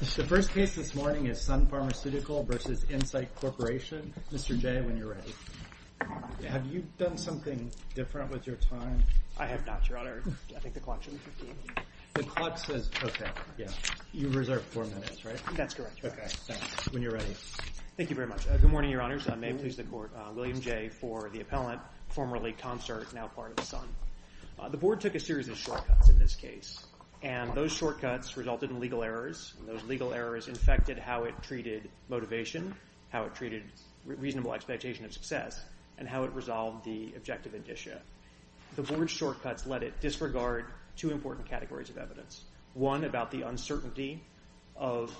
The first case this morning is Sun Pharmaceutical v. Incyte Corporation. Mr. Jay, when you're ready. Have you done something different with your time? I have not, Your Honor. I think the clock should be 15. The clock says, okay, yeah. You reserved four minutes, right? That's correct, Your Honor. Okay, thanks. When you're ready. Thank you very much. Good morning, Your Honors. I'm Abel, who's the court. William Jay for the appellant, formerly concert, now part of Sun. The board took a series of shortcuts in this case. And those shortcuts resulted in legal errors. And those legal errors affected how it treated motivation, how it treated reasonable expectation of success, and how it resolved the objective indicia. The board's shortcuts let it disregard two important categories of evidence. One, about the uncertainty of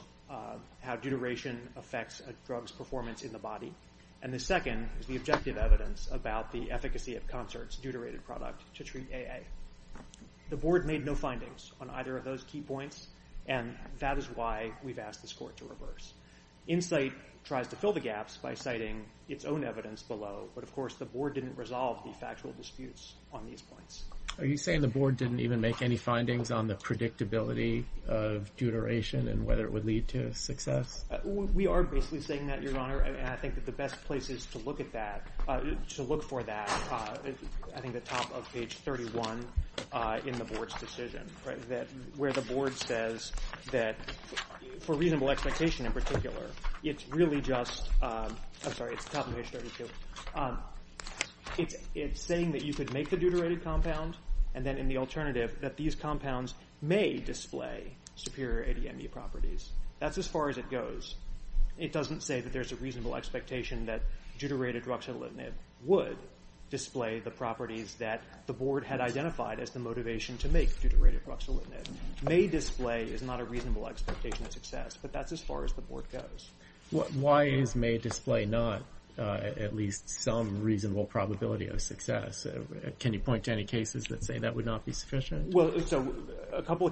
how deuteration affects a drug's performance in the body. And the second is the objective evidence about the efficacy of concert's deuterated product to treat AA. The board made no findings on either of those key points. And that is why we've asked this court to reverse. Insight tries to fill the gaps by citing its own evidence below. But of course, the board didn't resolve the factual disputes on these points. Are you saying the board didn't even make any findings on the predictability of deuteration and whether it would lead to success? We are basically saying that, Your Honor. And I think that the best places to look at that, to look for that, I think the top of page 31 in the board's decision, where the board says that, for reasonable expectation in particular, it's really just, I'm sorry, it's the top of page 32. It's saying that you could make the deuterated compound, and then in the alternative, that these compounds may display superior ADME properties. That's as far as it goes. It doesn't say that there's a reasonable expectation that deuterated ruxolitinib would display the properties that the board had identified as the motivation to make deuterated ruxolitinib. May display is not a reasonable expectation of success, but that's as far as the board goes. Why is may display not at least some reasonable probability of success? Can you point to any cases that say that would not be sufficient? Well, so a couple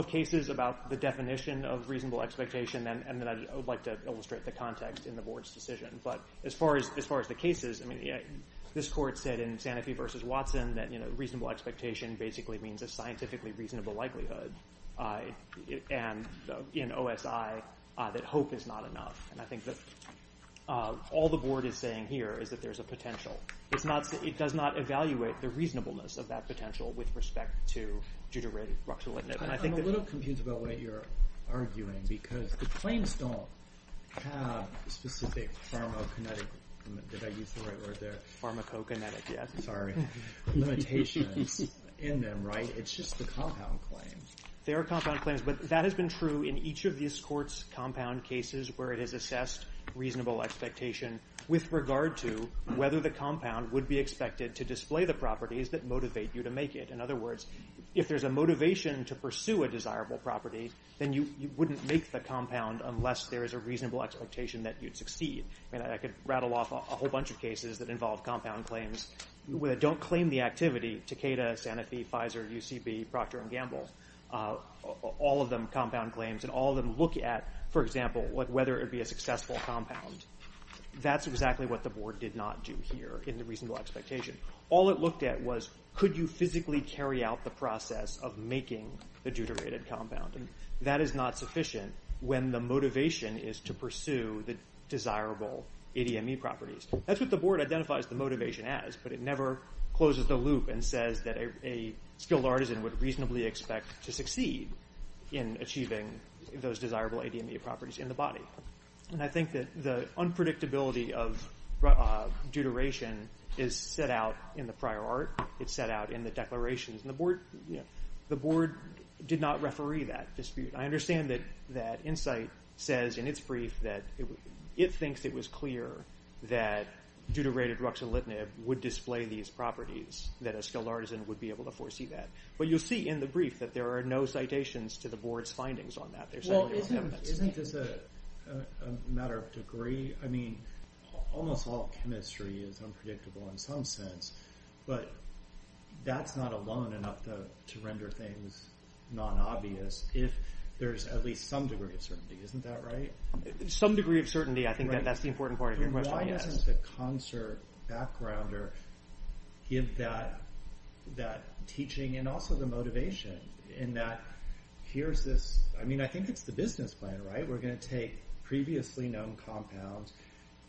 of cases about the definition of reasonable expectation, and then I would like to illustrate the context in the board's decision. But as far as the cases, this court said in Sanofi versus Watson, that reasonable expectation basically means a scientifically reasonable likelihood, and in OSI, that hope is not enough. And I think that all the board is saying here is that there's a potential. It does not evaluate the reasonableness of that potential with respect to deuterated ruxolitinib. I'm a little confused about what you're arguing, because the claims don't have specific pharmacokinetic limitations in them, right? It's just the compound claims. There are compound claims, but that has been true in each of this court's compound cases where it has assessed reasonable expectation with regard to whether the compound would be expected to display the properties that motivate you to make it. In other words, if there's a motivation to pursue a desirable property, then you wouldn't make the compound unless there is a reasonable expectation that you'd succeed. I could rattle off a whole bunch of cases that involve compound claims that don't claim the activity, Takeda, Sanofi, Pfizer, UCB, Procter & Gamble, all of them compound claims, and all of them look at, for example, whether it would be a successful compound. That's exactly what the board did not do here in the reasonable expectation. All it looked at was, could you physically carry out the process of making the deuterated compound? That is not sufficient when the motivation is to pursue the desirable ADME properties. That's what the board identifies the motivation as, but it never closes the loop and says that a skilled artisan would reasonably expect to succeed in achieving those desirable ADME properties in the body. I think that the unpredictability of deuteration is set out in the prior art. It's set out in the declarations. The board did not referee that dispute. I understand that Insight says in its brief that it thinks it was clear that deuterated ruxolitinib would display these properties, that a skilled artisan would be able to foresee that. But you'll see in the brief that there are no citations to the board's findings on that. Isn't this a matter of degree? Almost all chemistry is unpredictable in some sense, but that's not alone enough to render things non-obvious if there's at least some degree of certainty. Isn't that right? Some degree of certainty. I think that's the important part of your question. Why doesn't the concert backgrounder give that teaching and also the motivation in that here's this, I mean I think it's the business plan, right? We're going to take previously known compounds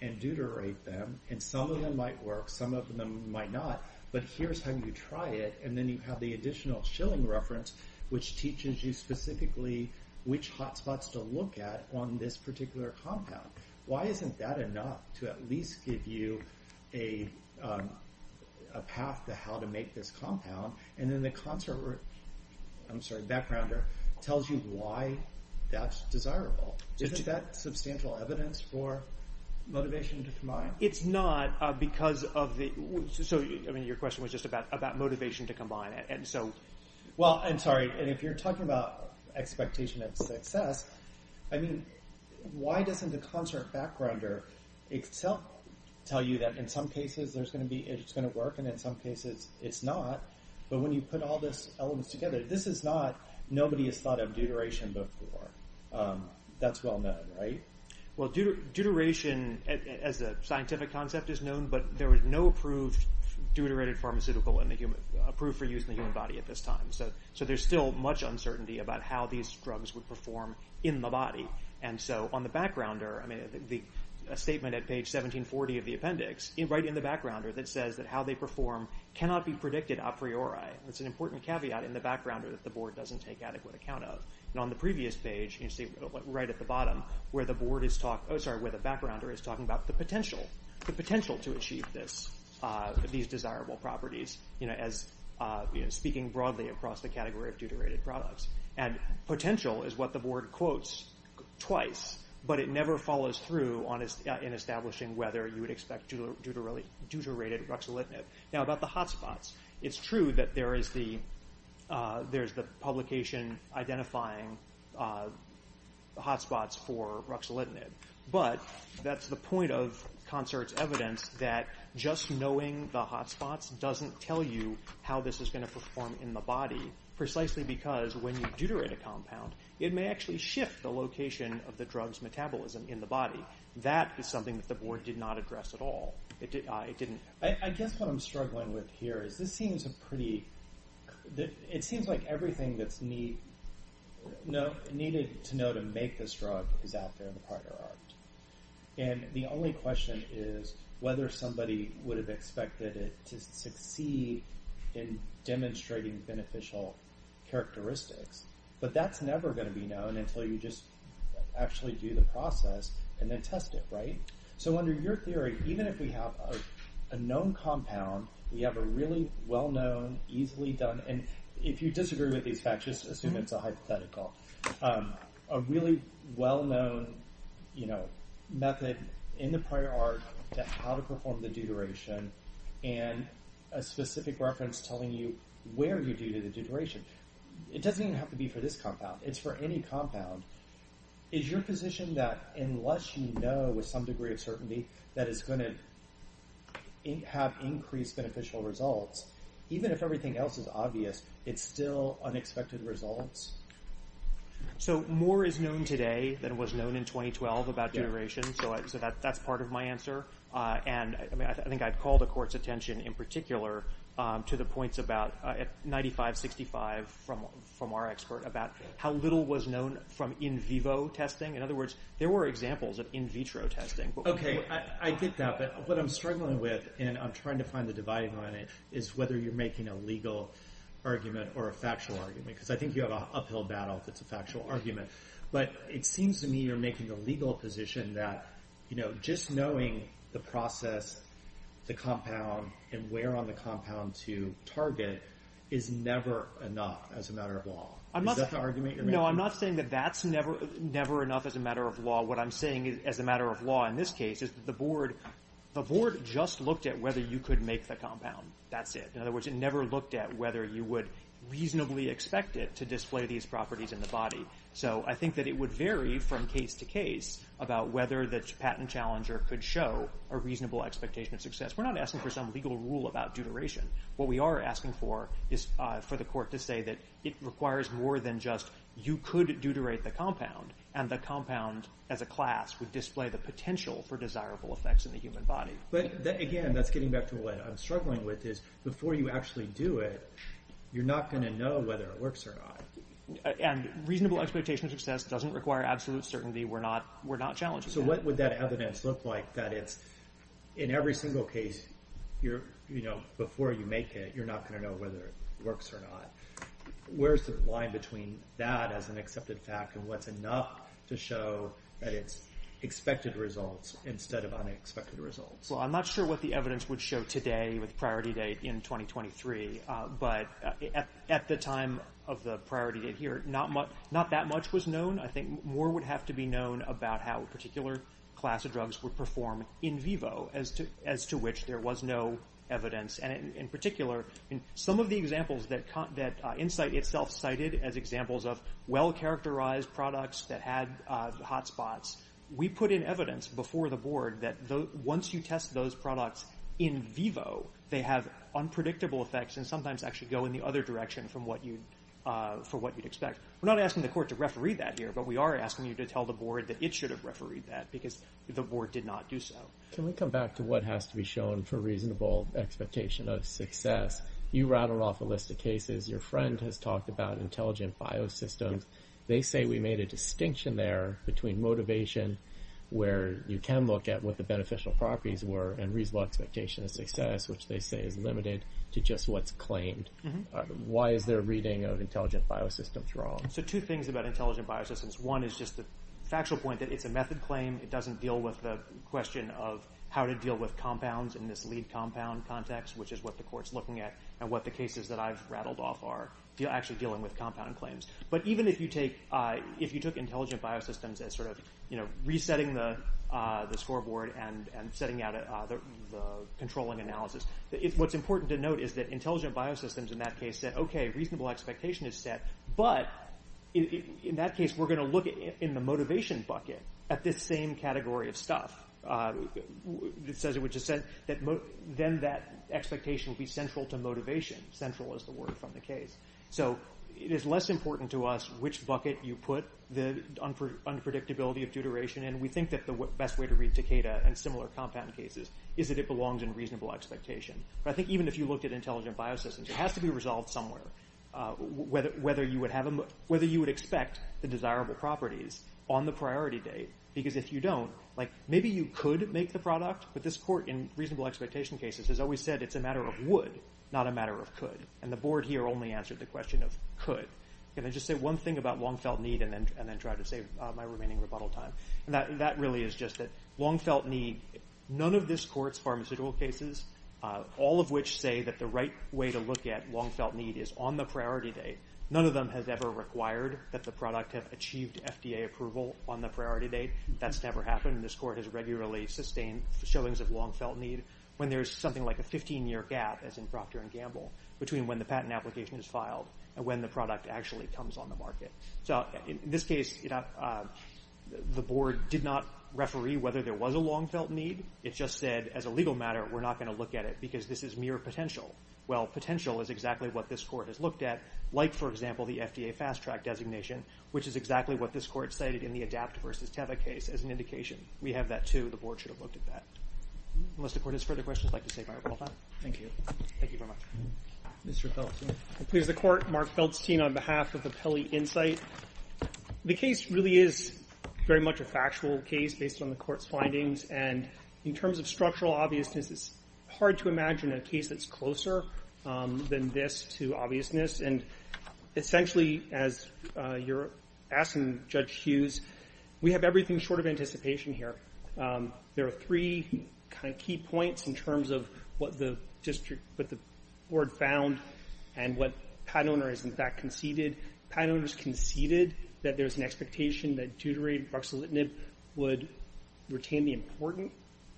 and deuterate them and some of them might work, some of them might not, but here's how you try it and then you have the additional Schilling reference which teaches you specifically which hot spots to look at on this particular compound. Why isn't that enough to at least give you a path to how to make this compound and then the concert backgrounder tells you why that's desirable? Isn't that substantial evidence for motivation to combine? It's not because of the, so your question was just about motivation to combine. Well, I'm sorry, and if you're talking about expectation of success, I mean why doesn't the concert backgrounder itself tell you that in some cases it's going to work and in some cases it's not, but when you put all these elements together, this is not, nobody has thought of deuteration before. That's well known, right? Well, deuteration as a scientific concept is known, but there was no approved deuterated pharmaceutical approved for use in the human body at this time, so there's still much uncertainty about how these drugs would perform in the body and so on the backgrounder, I mean a statement at page 1740 of the appendix, right in the backgrounder that says that how they perform cannot be predicted a priori. It's an important caveat in the backgrounder that the board doesn't take adequate account of. On the previous page, right at the bottom, where the backgrounder is talking about the potential, the potential to achieve these desirable properties, speaking broadly across the category of deuterated products, and potential is what the board quotes twice, but it never follows through in establishing whether you would expect deuterated ruxolitinib. Now about the hot spots, it's true that there is the publication in identifying the hot spots for ruxolitinib, but that's the point of concert's evidence that just knowing the hot spots doesn't tell you how this is going to perform in the body, precisely because when you deuterate a compound, it may actually shift the location of the drug's metabolism in the body. That is something that the board did not address at all. I guess what I'm struggling with here is this seems a pretty, it seems like everything that's needed to know to make this drug is out there in the prior art, and the only question is whether somebody would have expected it to succeed in demonstrating beneficial characteristics, but that's never going to be known until you just actually do the process and then test it, right? So under your theory, even if we have a known compound, we have a really well-known, easily done, and if you disagree with these facts, just assume it's a hypothetical, a really well-known method in the prior art to how to perform the deuteration, and a specific reference telling you where you do the deuteration. It doesn't even have to be for this compound. It's for any compound. Is your position that unless you know with some degree of certainty that it's going to have increased beneficial results, even if everything else is obvious, it's still unexpected results? So more is known today than was known in 2012 about deuteration, so that's part of my answer, and I think I'd call the court's attention in particular to the points about 95-65 from our expert about how little was known from in vivo testing. In other words, there were examples of in vitro testing. Okay, I get that, but what I'm struggling with, and I'm trying to find the divide on it, is whether you're making a legal argument or a factual argument, because I think you have an uphill battle if it's a factual argument, but it seems to me you're making a legal position that just knowing the process, the compound, and where on the compound to target is never enough as a matter of law. Is that the argument you're making? No, I'm not saying that that's never enough as a matter of law. What I'm saying as a matter of law in this case is that the board just looked at whether you could make the compound. That's it. In other words, it never looked at whether you would reasonably expect it to display these properties in the body. So I think that it would vary from case to case about whether the patent challenger could show a reasonable expectation of success. We're not asking for some legal rule about deuteration. What we are asking for is for the court to say that it requires more than just you could deuterate the compound, and the compound as a class would display the potential for desirable effects in the human body. But again, that's getting back to what I'm struggling with, is before you actually do it, you're not going to know whether it works or not. And reasonable expectation of success doesn't require absolute certainty. We're not challenging that. So what would that evidence look like, that it's in every single case before you make it, you're not going to know whether it works or not? Where's the line between that as an accepted fact and what's enough to show that it's expected results instead of unexpected results? Well, I'm not sure what the evidence would show today with priority date in 2023, but at the time of the priority here, not that much was known. I think more would have to be known about how a particular class of drugs would perform in vivo, as to which there was no evidence. And in particular, some of the examples that Insight itself cited as examples of well-characterized products that had hotspots, we put in evidence before the board that once you test those products in vivo, they have unpredictable effects and sometimes actually go in the other direction from what you'd expect. We're not asking the court to referee that here, but we are asking you to tell the board that it should have refereed that, because the board did not do so. Can we come back to what has to be shown for reasonable expectation of success? You rattled off a list of cases. Your friend has talked about intelligent biosystems. They say we made a distinction there between motivation, where you can look at what the beneficial properties were, and reasonable expectation of success, which they say is limited to just what's claimed. Why is their reading of intelligent biosystems wrong? So two things about intelligent biosystems. One is just the factual point that it's a method claim. It doesn't deal with the question of how to deal with compounds in this lead compound context, which is what the court's looking at and what the cases that I've rattled off are, actually dealing with compound claims. But even if you took intelligent biosystems as sort of resetting the scoreboard and setting out the controlling analysis, what's important to note is that intelligent biosystems in that case said, OK, reasonable expectation is set, but in that case we're going to look in the motivation bucket at this same category of stuff. It says it would just say that then that expectation would be central to motivation. Central is the word from the case. So it is less important to us which bucket you put the unpredictability of due duration in. We think that the best way to read Takeda and similar compound cases is that it belongs in reasonable expectation. But I think even if you looked at intelligent biosystems, it has to be resolved somewhere whether you would expect the desirable properties on the priority date. Because if you don't, maybe you could make the product, but this court in reasonable expectation cases has always said it's a matter of would, not a matter of could. And the board here only answered the question of could. Can I just say one thing about Longfelt Need and then try to save my remaining rebuttal time? That really is just that Longfelt Need, none of this court's pharmaceutical cases, all of which say that the right way to look at Longfelt Need is on the priority date, none of them has ever required that the product have achieved FDA approval on the priority date. That's never happened. This court has regularly sustained showings of Longfelt Need when there's something like a 15-year gap, as in Procter & Gamble, between when the patent application is filed and when the product actually comes on the market. So in this case, the board did not referee whether there was a Longfelt Need. It just said, as a legal matter, we're not going to look at it because this is mere potential. Well, potential is exactly what this court has looked at, like, for example, the FDA Fast-Track designation, which is exactly what this court cited in the ADAPT v. Teva case as an indication. We have that, too. The board should have looked at that. Unless the court has further questions, I'd like to save my rebuttal time. Thank you. Please, the court. Mark Feldstein on behalf of the Pelley Insight. The case really is very much a factual case based on the court's findings, and in terms of structural obviousness, it's hard to imagine a case that's closer than this to obviousness, and essentially, as you're asking Judge Hughes, we have everything short of anticipation here. There are three kind of key points in terms of what the board found and what Pat Oner has, in fact, conceded. Pat Oner has conceded that there's an expectation that deuterated buxolitinib would retain the important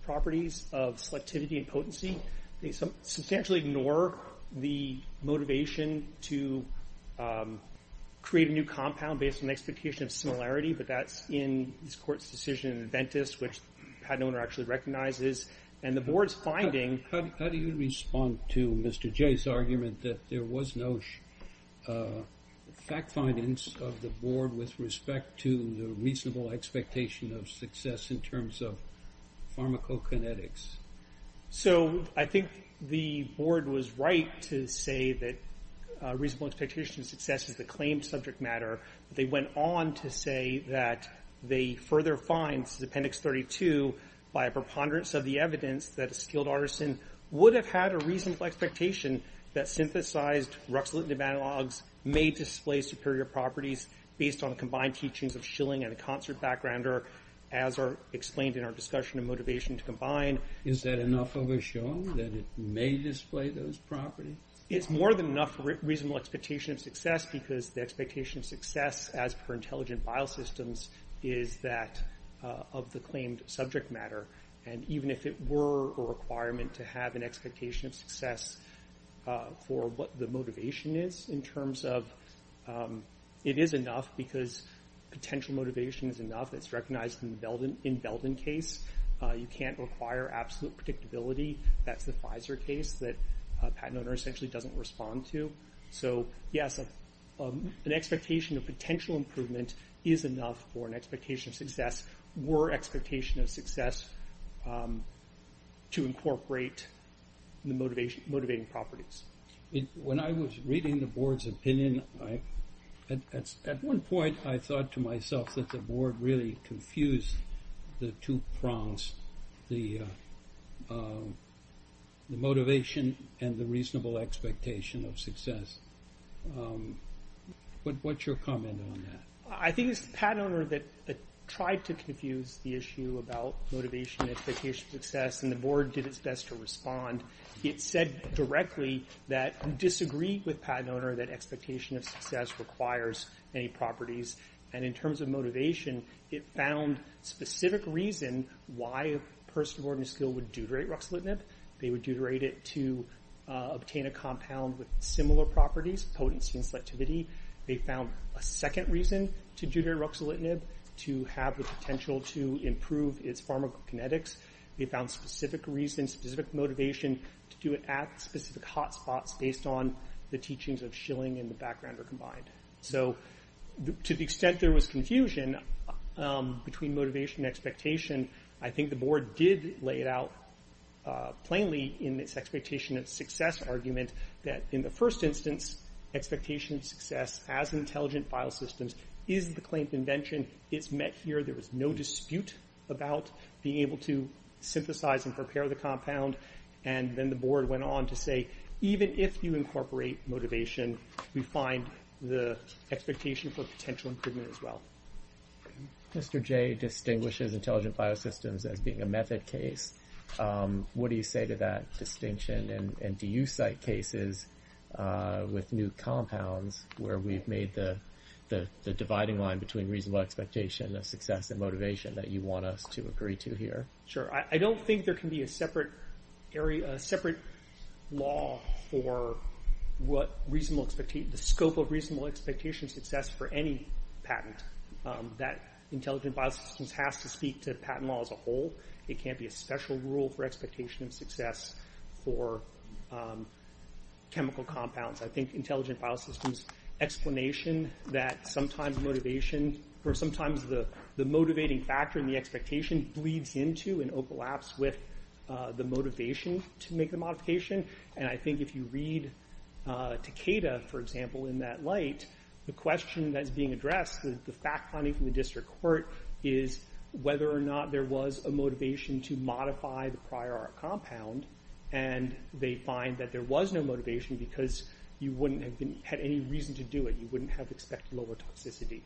properties of selectivity and potency. They substantially ignore the motivation to create a new compound based on the expectation of similarity, but that's in this court's decision in Adventist, which Pat Oner actually recognizes, and the board's finding... How do you respond to Mr. Jay's argument that there was no fact findings of the board with respect to the reasonable expectation of success in terms of So, I think the board was right to say that reasonable expectation of success is a claimed subject matter. They went on to say that they further find, this is Appendix 32, by a preponderance of the evidence, that a skilled artisan would have had a reasonable expectation that synthesized ruxolitinib analogs may display superior properties based on combined teachings of Schilling and a concert backgrounder, as are explained in our discussion of motivation to combine. Is that enough of a show that it may display those properties? It's more than enough reasonable expectation of success because the expectation of success as per intelligent biosystems is that of the claimed subject matter, and even if it were a requirement to have an expectation of success for what the motivation is in terms of it is enough because potential motivation is enough. It's recognized in the Belden case. You can't require absolute predictability. That's the Pfizer case that a patent owner essentially doesn't respond to. So yes, an expectation of potential improvement is enough for an expectation of success were expectation of success to incorporate the motivating properties. When I was reading the board's opinion, at one point I thought to myself that the board really confused the two prongs, the motivation and the reasonable expectation of success. What's your comment on that? I think it's the patent owner that tried to confuse the issue about motivation and expectation of success, and the board did its best to respond. It said directly that it disagreed with the patent owner that expectation of success requires any properties, and in terms of motivation, it found specific reason why a person of ordinary skill would deuterate ruxolitinib. They would deuterate it to obtain a compound with similar properties, potency and selectivity. They found a second reason to deuterate ruxolitinib, to have the potential to improve its pharmacokinetics. They found specific reason, specific motivation to do it at specific hot spots based on the teachings of Schilling and the backgrounder combined. To the extent there was confusion between motivation and expectation, I think the board did lay it out plainly in its expectation of success argument that in the first instance expectation of success as intelligent file systems is the claim convention. It's met here. There was no dispute about being able to synthesize and prepare the compound, and then the board went on to say, even if you incorporate motivation, we find the expectation for potential improvement as well. Mr. Jay distinguishes intelligent file systems as being a method case. What do you say to that distinction, and do you cite cases with new compounds where we've made the dividing line between reasonable expectation of success and motivation that you want us to agree to here? Sure. I don't think there can be a separate area, a separate law for what reasonable expectation, the scope of reasonable expectation of success for any patent. That intelligent file systems has to speak to patent law as a whole. It can't be a special rule for expectation of success for chemical compounds. I think intelligent file systems' explanation that sometimes motivation or sometimes the motivating factor in the expectation bleeds into and overlaps with the motivation to make the modification, and I think if you read Takeda, for example, in that light, the question that's being addressed is the fact finding from the district court is whether or not there was a motivation to modify the prior art compound, and they find that there was no motivation because you wouldn't have had any reason to do it. You wouldn't have expected lower toxicity.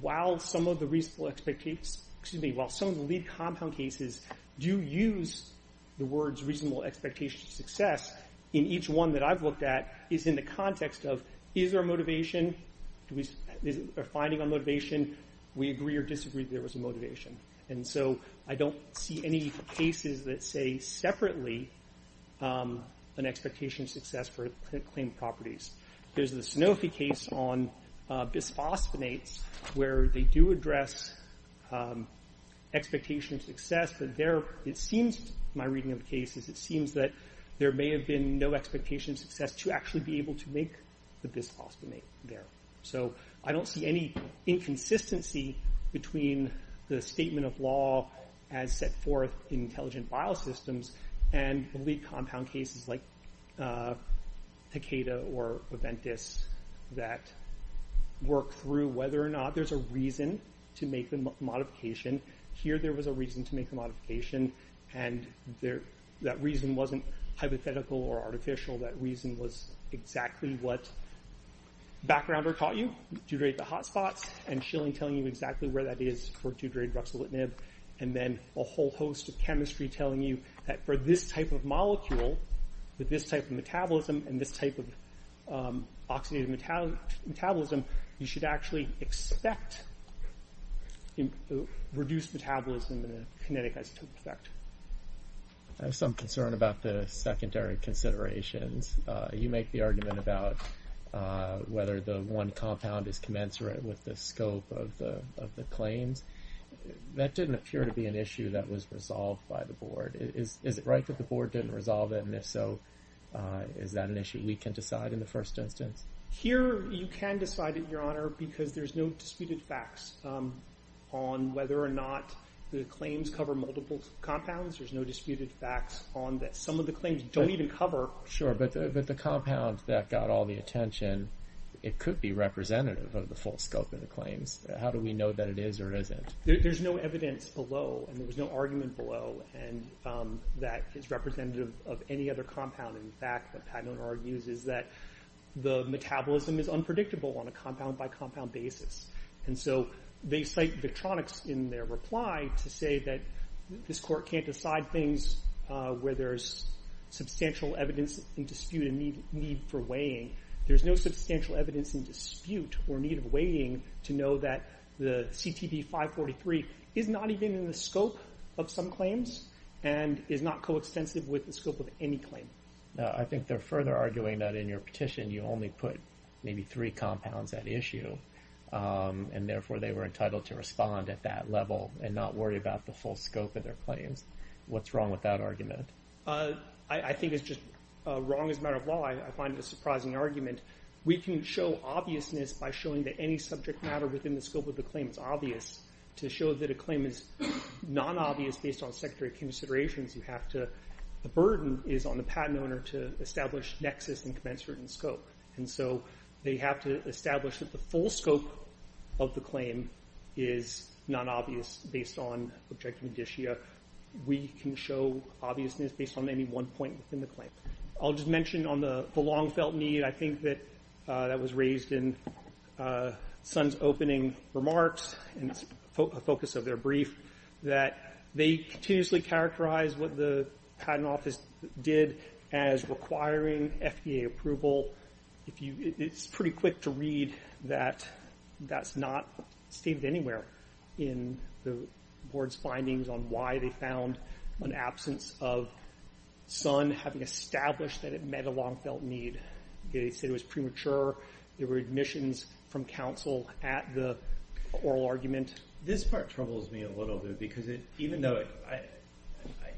While some of the compound cases do use the words reasonable expectation of success, in each one that I've looked at is in the context of is there a motivation? Is there a finding on motivation? We agree or disagree that there was a motivation. And so I don't see any cases that say separately an expectation of success for claim properties. There's the Sanofi case on bisphosphonates where they do address expectation of success, but there it seems, in my reading of cases, it seems that there may have been no expectation of success to actually be able to make the bisphosphonate there. I don't see any inconsistency between the statement of law as set forth in intelligent biosystems and the lead compound cases like Takeda or Aventis that work through whether or not there's a reason to make the modification. Here there was a reason to make the modification and that reason wasn't hypothetical or artificial, that reason was exactly what Backrounder taught you, deuterate the hotspots and Schilling telling you exactly where that is for deuterated ruxolitinib and then a whole host of chemistry telling you that for this type of molecule, with this type of metabolism and this type of oxidative metabolism, you should actually expect reduced metabolism and kinetic isotope effect. I have some concern about the secondary considerations. You make the argument about whether the one compound is commensurate with the scope of the claims. That didn't appear to be an issue that was resolved by the board. Is it right that the board didn't resolve it, and if so is that an issue we can decide in the first instance? Here you can decide it, your honor, because there's no disputed facts on whether or not the claims cover multiple compounds. There's no disputed facts on that some of the claims don't even cover. Sure, but the compound that got all the attention it could be representative of the full scope of the claims. How do we know that it is or isn't? There's no evidence below and there was no argument below and that is representative of any other compound. In fact, what Padnone argues is that the metabolism is unpredictable on a compound by compound basis and so they cite Victronics in their reply to say that this court can't decide things where there's substantial evidence in dispute and need for weighing. There's no substantial evidence in dispute or need of weighing to know that the CTP 543 is not even in the scope of some claims and is not so extensive with the scope of any claim. I think they're further arguing that in your petition you only put maybe three compounds at issue and therefore they were entitled to respond at that level and not worry about the full scope of their claims. What's wrong with that argument? I think it's just wrong as a matter of law. I find it a surprising argument. We can show obviousness by showing that any subject matter within the scope of the claim is obvious. To show that a claim is non-obvious based on sector considerations, the burden is on the patent owner to establish nexus and commence written scope. They have to establish that the full scope of the claim is non-obvious based on objective judicia. We can show obviousness based on any one point within the claim. I'll just mention on the long felt need, I think that was raised in Sun's opening remarks and it's a focus of their brief, that they continuously characterize what the patent office did as requiring FDA approval. It's pretty quick to read that that's not stated anywhere in the board's findings on why they found an absence of Sun having established that it met a long felt need. They said it was premature, there were admissions from counsel at the oral argument. This part troubles me a little bit because even though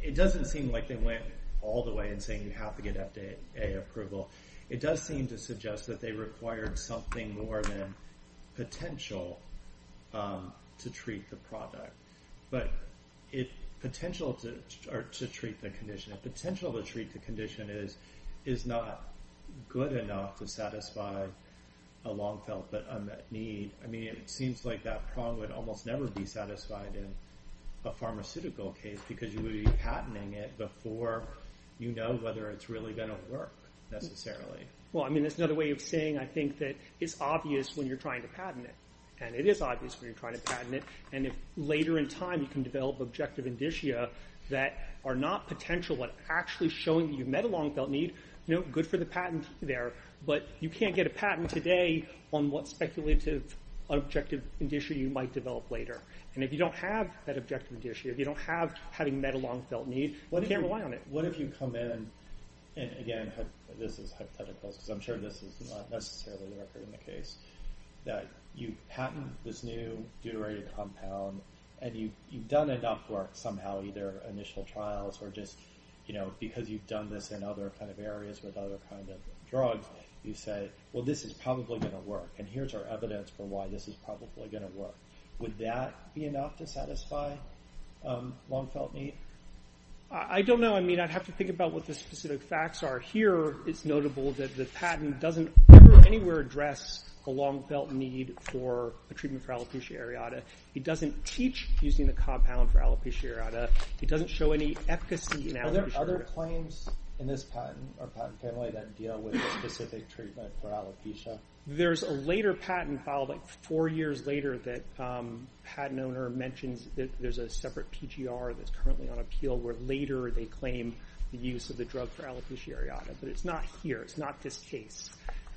it doesn't seem like they went all the way in saying you have to get FDA approval, it does seem to suggest that they required something more than potential to treat the product. Potential to treat the condition, potential to treat the condition is not good enough to satisfy a long felt but would almost never be satisfied in a pharmaceutical case because you would be patenting it before you know whether it's really going to work necessarily. That's another way of saying I think that it's obvious when you're trying to patent it and it is obvious when you're trying to patent it and if later in time you can develop objective indicia that are not potential but actually showing you met a long felt need, good for the patent there but you can't get a patent today on what speculative objective indicia you might develop later and if you don't have that objective indicia, if you don't have having met a long felt need, you can't rely on it. What if you come in and again this is hypothetical because I'm sure this is not necessarily the case that you patent this new deuterated compound and you've done enough work somehow either initial trials or just because you've done this in other areas with other kinds of drugs, you say well this is probably going to work and here's our evidence for why this is probably going to work. Would that be enough to satisfy a long felt need? I don't know, I mean I'd have to think about what the specific facts are. Here it's notable that the patent doesn't ever anywhere address a long felt need for a treatment for alopecia areata. It doesn't teach using the compound for alopecia areata. It doesn't show any efficacy in alopecia areata. Are there other claims in this patent or patent family that deal with specific treatment for alopecia? There's a later patent filed four years later that a patent owner mentions that there's a separate PGR that's currently on appeal where later they claim the use of the drug for alopecia areata. But it's not here, it's not this case.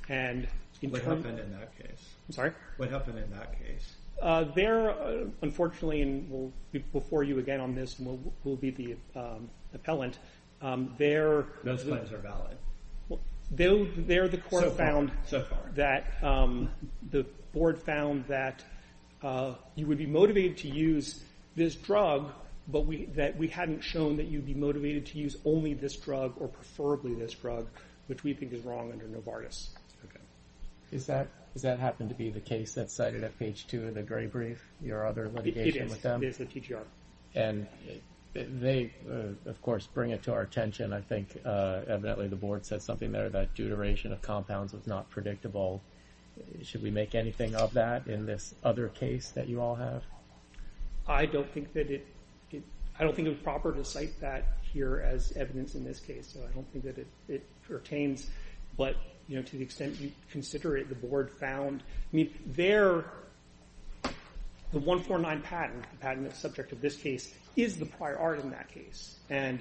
What happened in that case? I'm sorry? What happened in that case? There, unfortunately and we'll be before you again on this and we'll be the appellant. Those claims are valid. There the court found that the board found that you would be motivated to use this drug but that we hadn't shown that you'd be motivated to use only this drug or preferably this drug which we think is wrong under Novartis. Is that happen to be the case that's cited at page two of the gray brief? Your other litigation with them? It is, it is the TGR. They of course bring it to our attention. I think evidently the board said something there about deuteration of compounds was not predictable. Should we make anything of that in this other case that you all have? I don't think that I don't think it was proper to cite that here as evidence in this case so I don't think that it pertains but to the extent you consider it, the board found there the 149 patent the patent that's subject to this case is the prior art in that case and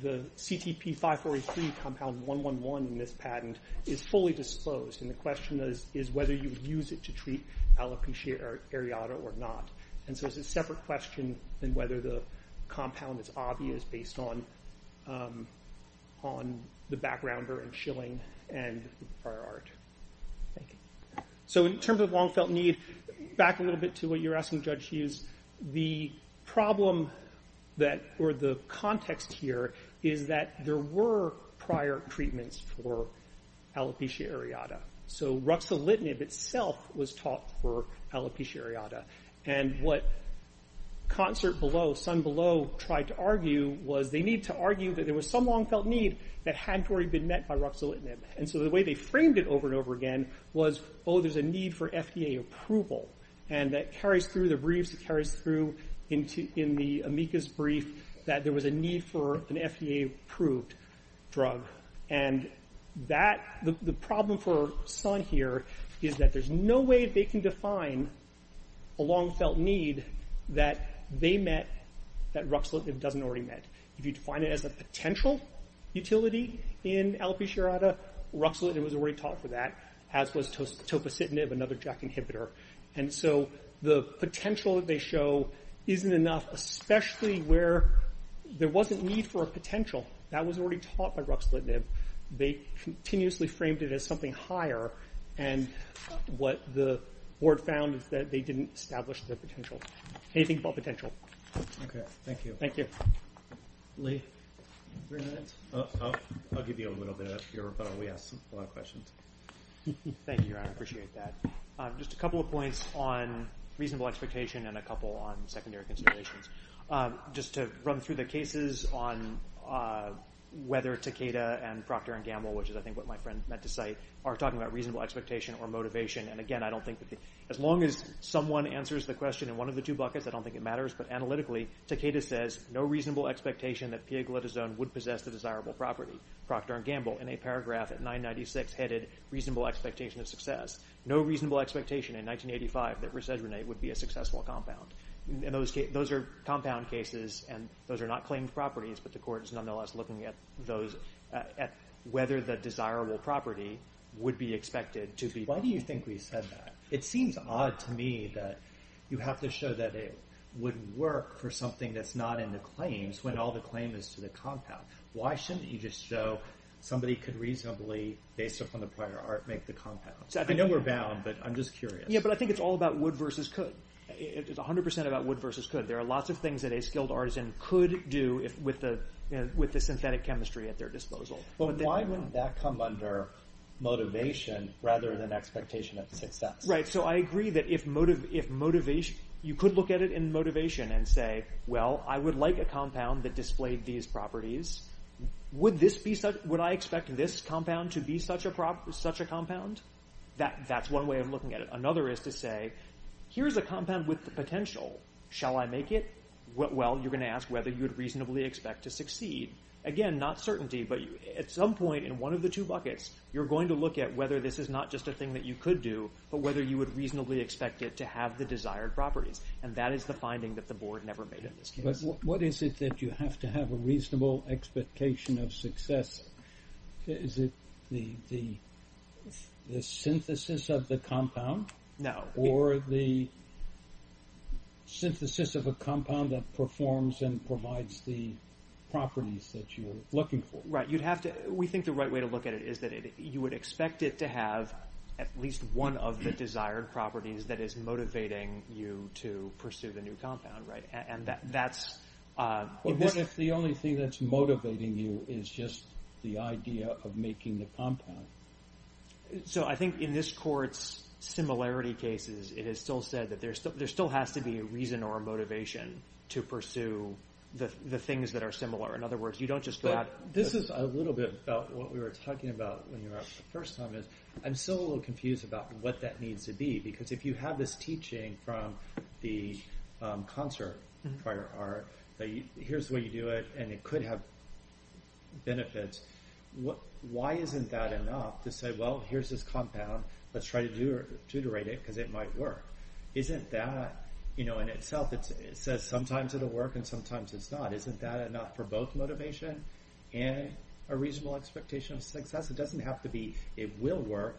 the CTP 543 compound 111 in this patent is fully disclosed and the question is whether you would use it to treat alopecia areata or not and so it's a separate question than whether the compound is obvious based on on the background and shilling and prior art. Thank you. So in terms of long felt need, back a little bit to what you're asking Judge Hughes the problem or the context here is that there were prior treatments for alopecia areata so ruxolitinib itself was taught for alopecia areata and what Concert Below, Sun Below tried to argue was they need to argue that there was some long felt need that hadn't already been met by ruxolitinib and so the way they framed it over and over again was oh there's a need for FDA approval and that carries through the briefs it carries through in the amicus brief that there was a need for an FDA approved drug and that, the problem for Sun here is that there's no way they can define a long felt need that they met that ruxolitinib doesn't already met. If you define it as a potential utility in alopecia areata, ruxolitinib was already taught for that as was and so the potential that they show isn't enough, especially where there wasn't need for a potential. That was already taught by ruxolitinib. They continuously framed it as something higher and what the board found is that they didn't establish their potential. Anything but potential. Okay, thank you. Thank you. Lee? I'll give you a little bit of your rebuttal. We asked a lot of questions. Thank you, Your Honor. I appreciate that. Just a couple of points on reasonable expectation and a couple on secondary considerations. Just to run through the cases on whether Takeda and Procter & Gamble, which is I think what my friend meant to say, are talking about reasonable expectation or motivation. And again, I don't think as long as someone answers the question in one of the two buckets, I don't think it matters, but analytically, Takeda says, no reasonable expectation that pioglitazone would possess the desirable property. Procter & Gamble in a paragraph at 996 headed reasonable expectation of success. No reasonable expectation in 1985 that resedronate would be a successful compound. Those are compound cases and those are not claimed properties but the court is nonetheless looking at whether the desirable property would be expected to be. Why do you think we said that? It seems odd to me that you have to show that it would work for something that's not in the claims when all the claim is to the compound. Why shouldn't you just show that somebody could reasonably, based upon the prior art, make the compound? I know we're bound, but I'm just curious. Yeah, but I think it's all about would versus could. It's 100% about would versus could. There are lots of things that a skilled artisan could do with the synthetic chemistry at their disposal. But why wouldn't that come under motivation rather than expectation of success? Right, so I agree that if motivation you could look at it in motivation and say, well, I would like a compound that displayed these properties. Would I expect this compound to be such a compound? That's one way of looking at it. Another is to say here's a compound with the potential. Shall I make it? Well, you're going to ask whether you would reasonably expect to succeed. Again, not certainty, but at some point in one of the two buckets, you're going to look at whether this is not just a thing that you could do, but whether you would reasonably expect it to have the desired properties. And that is the finding that the board never made in this case. But what is it that you have to have a reasonable expectation of success? Is it the synthesis of the compound? No. Or the synthesis of a compound that performs and provides the properties that you are looking for? Right, you'd have to, we think the right way to look at it is that you would expect it to have at least one of the desired properties that is motivating you to pursue the new compound, right? And that's What if the only thing that's motivating you is just the idea of making the compound? So I think in this court's similarity cases, it is still said that there still has to be a reason or a motivation to pursue the things that are similar. In other words, you don't just go out This is a little bit about what we were talking about when you were up the first time is I'm still a little confused about what that needs to be. Because if you have this teaching from the concert prior art, here's the way you do it, and it could have benefits. Why isn't that enough to say, well, here's this compound. Let's try to deuterate it because it might work. Isn't that in itself, it says sometimes it'll work and sometimes it's not. Isn't that enough for both motivation and a reasonable expectation of success? It doesn't have to be, it will work.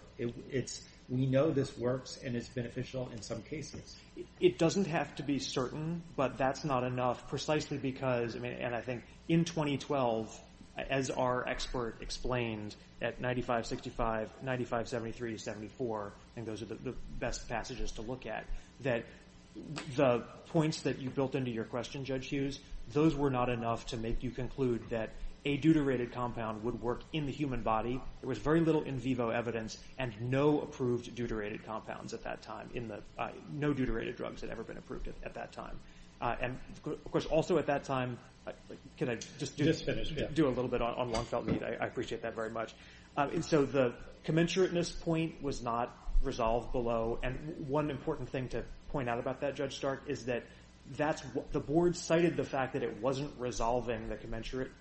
We know this works and it's beneficial in some cases. It doesn't have to be certain, but that's not enough precisely because and I think in 2012 as our expert explained at 95-65 95-73-74 and those are the best passages to look at, that the points that you built into your question, Judge Hughes, those were not enough to make you conclude that a deuterated compound would work in the human body. There was very little in vivo evidence and no approved deuterated compounds at that time. No deuterated drugs had ever been approved at that time. Of course, also at that time, can I just do a little bit on long-felt need? I appreciate that very much. The commensurateness point was not resolved below and one important thing to point out about that, Judge Stark, is that the board cited the fact that it wasn't resolving the commensurate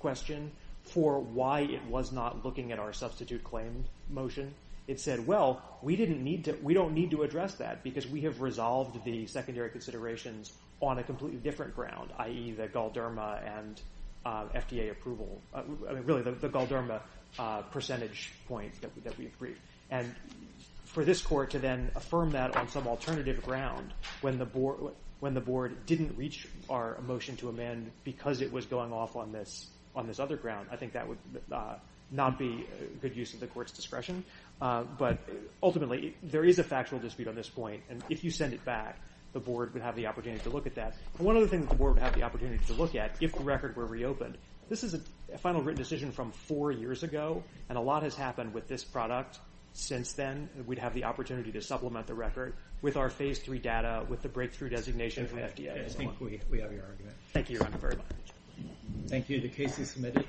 question for why it was not looking at our substitute claim motion. It said, well, we don't need to address that because we have resolved the secondary considerations on a completely different ground, i.e. the Galderma and FDA approval, really the Galderma percentage point that we agreed. For this court to then affirm that on some alternative ground when the board didn't reach our motion to amend because it was going off on this other ground, I think that would not be good use of the court's discretion. Ultimately, there is a factual dispute on this point and if you send it back, the board would have the opportunity to look at that. One other thing the board would have the opportunity to look at, if the record were reopened, this is a final written decision from four years ago and a lot has happened with this product since then. We'd have the opportunity to supplement the record with our phase three data, with the breakthrough designation of FDA. Thank you, Your Honor, very much. Thank you. The case is submitted.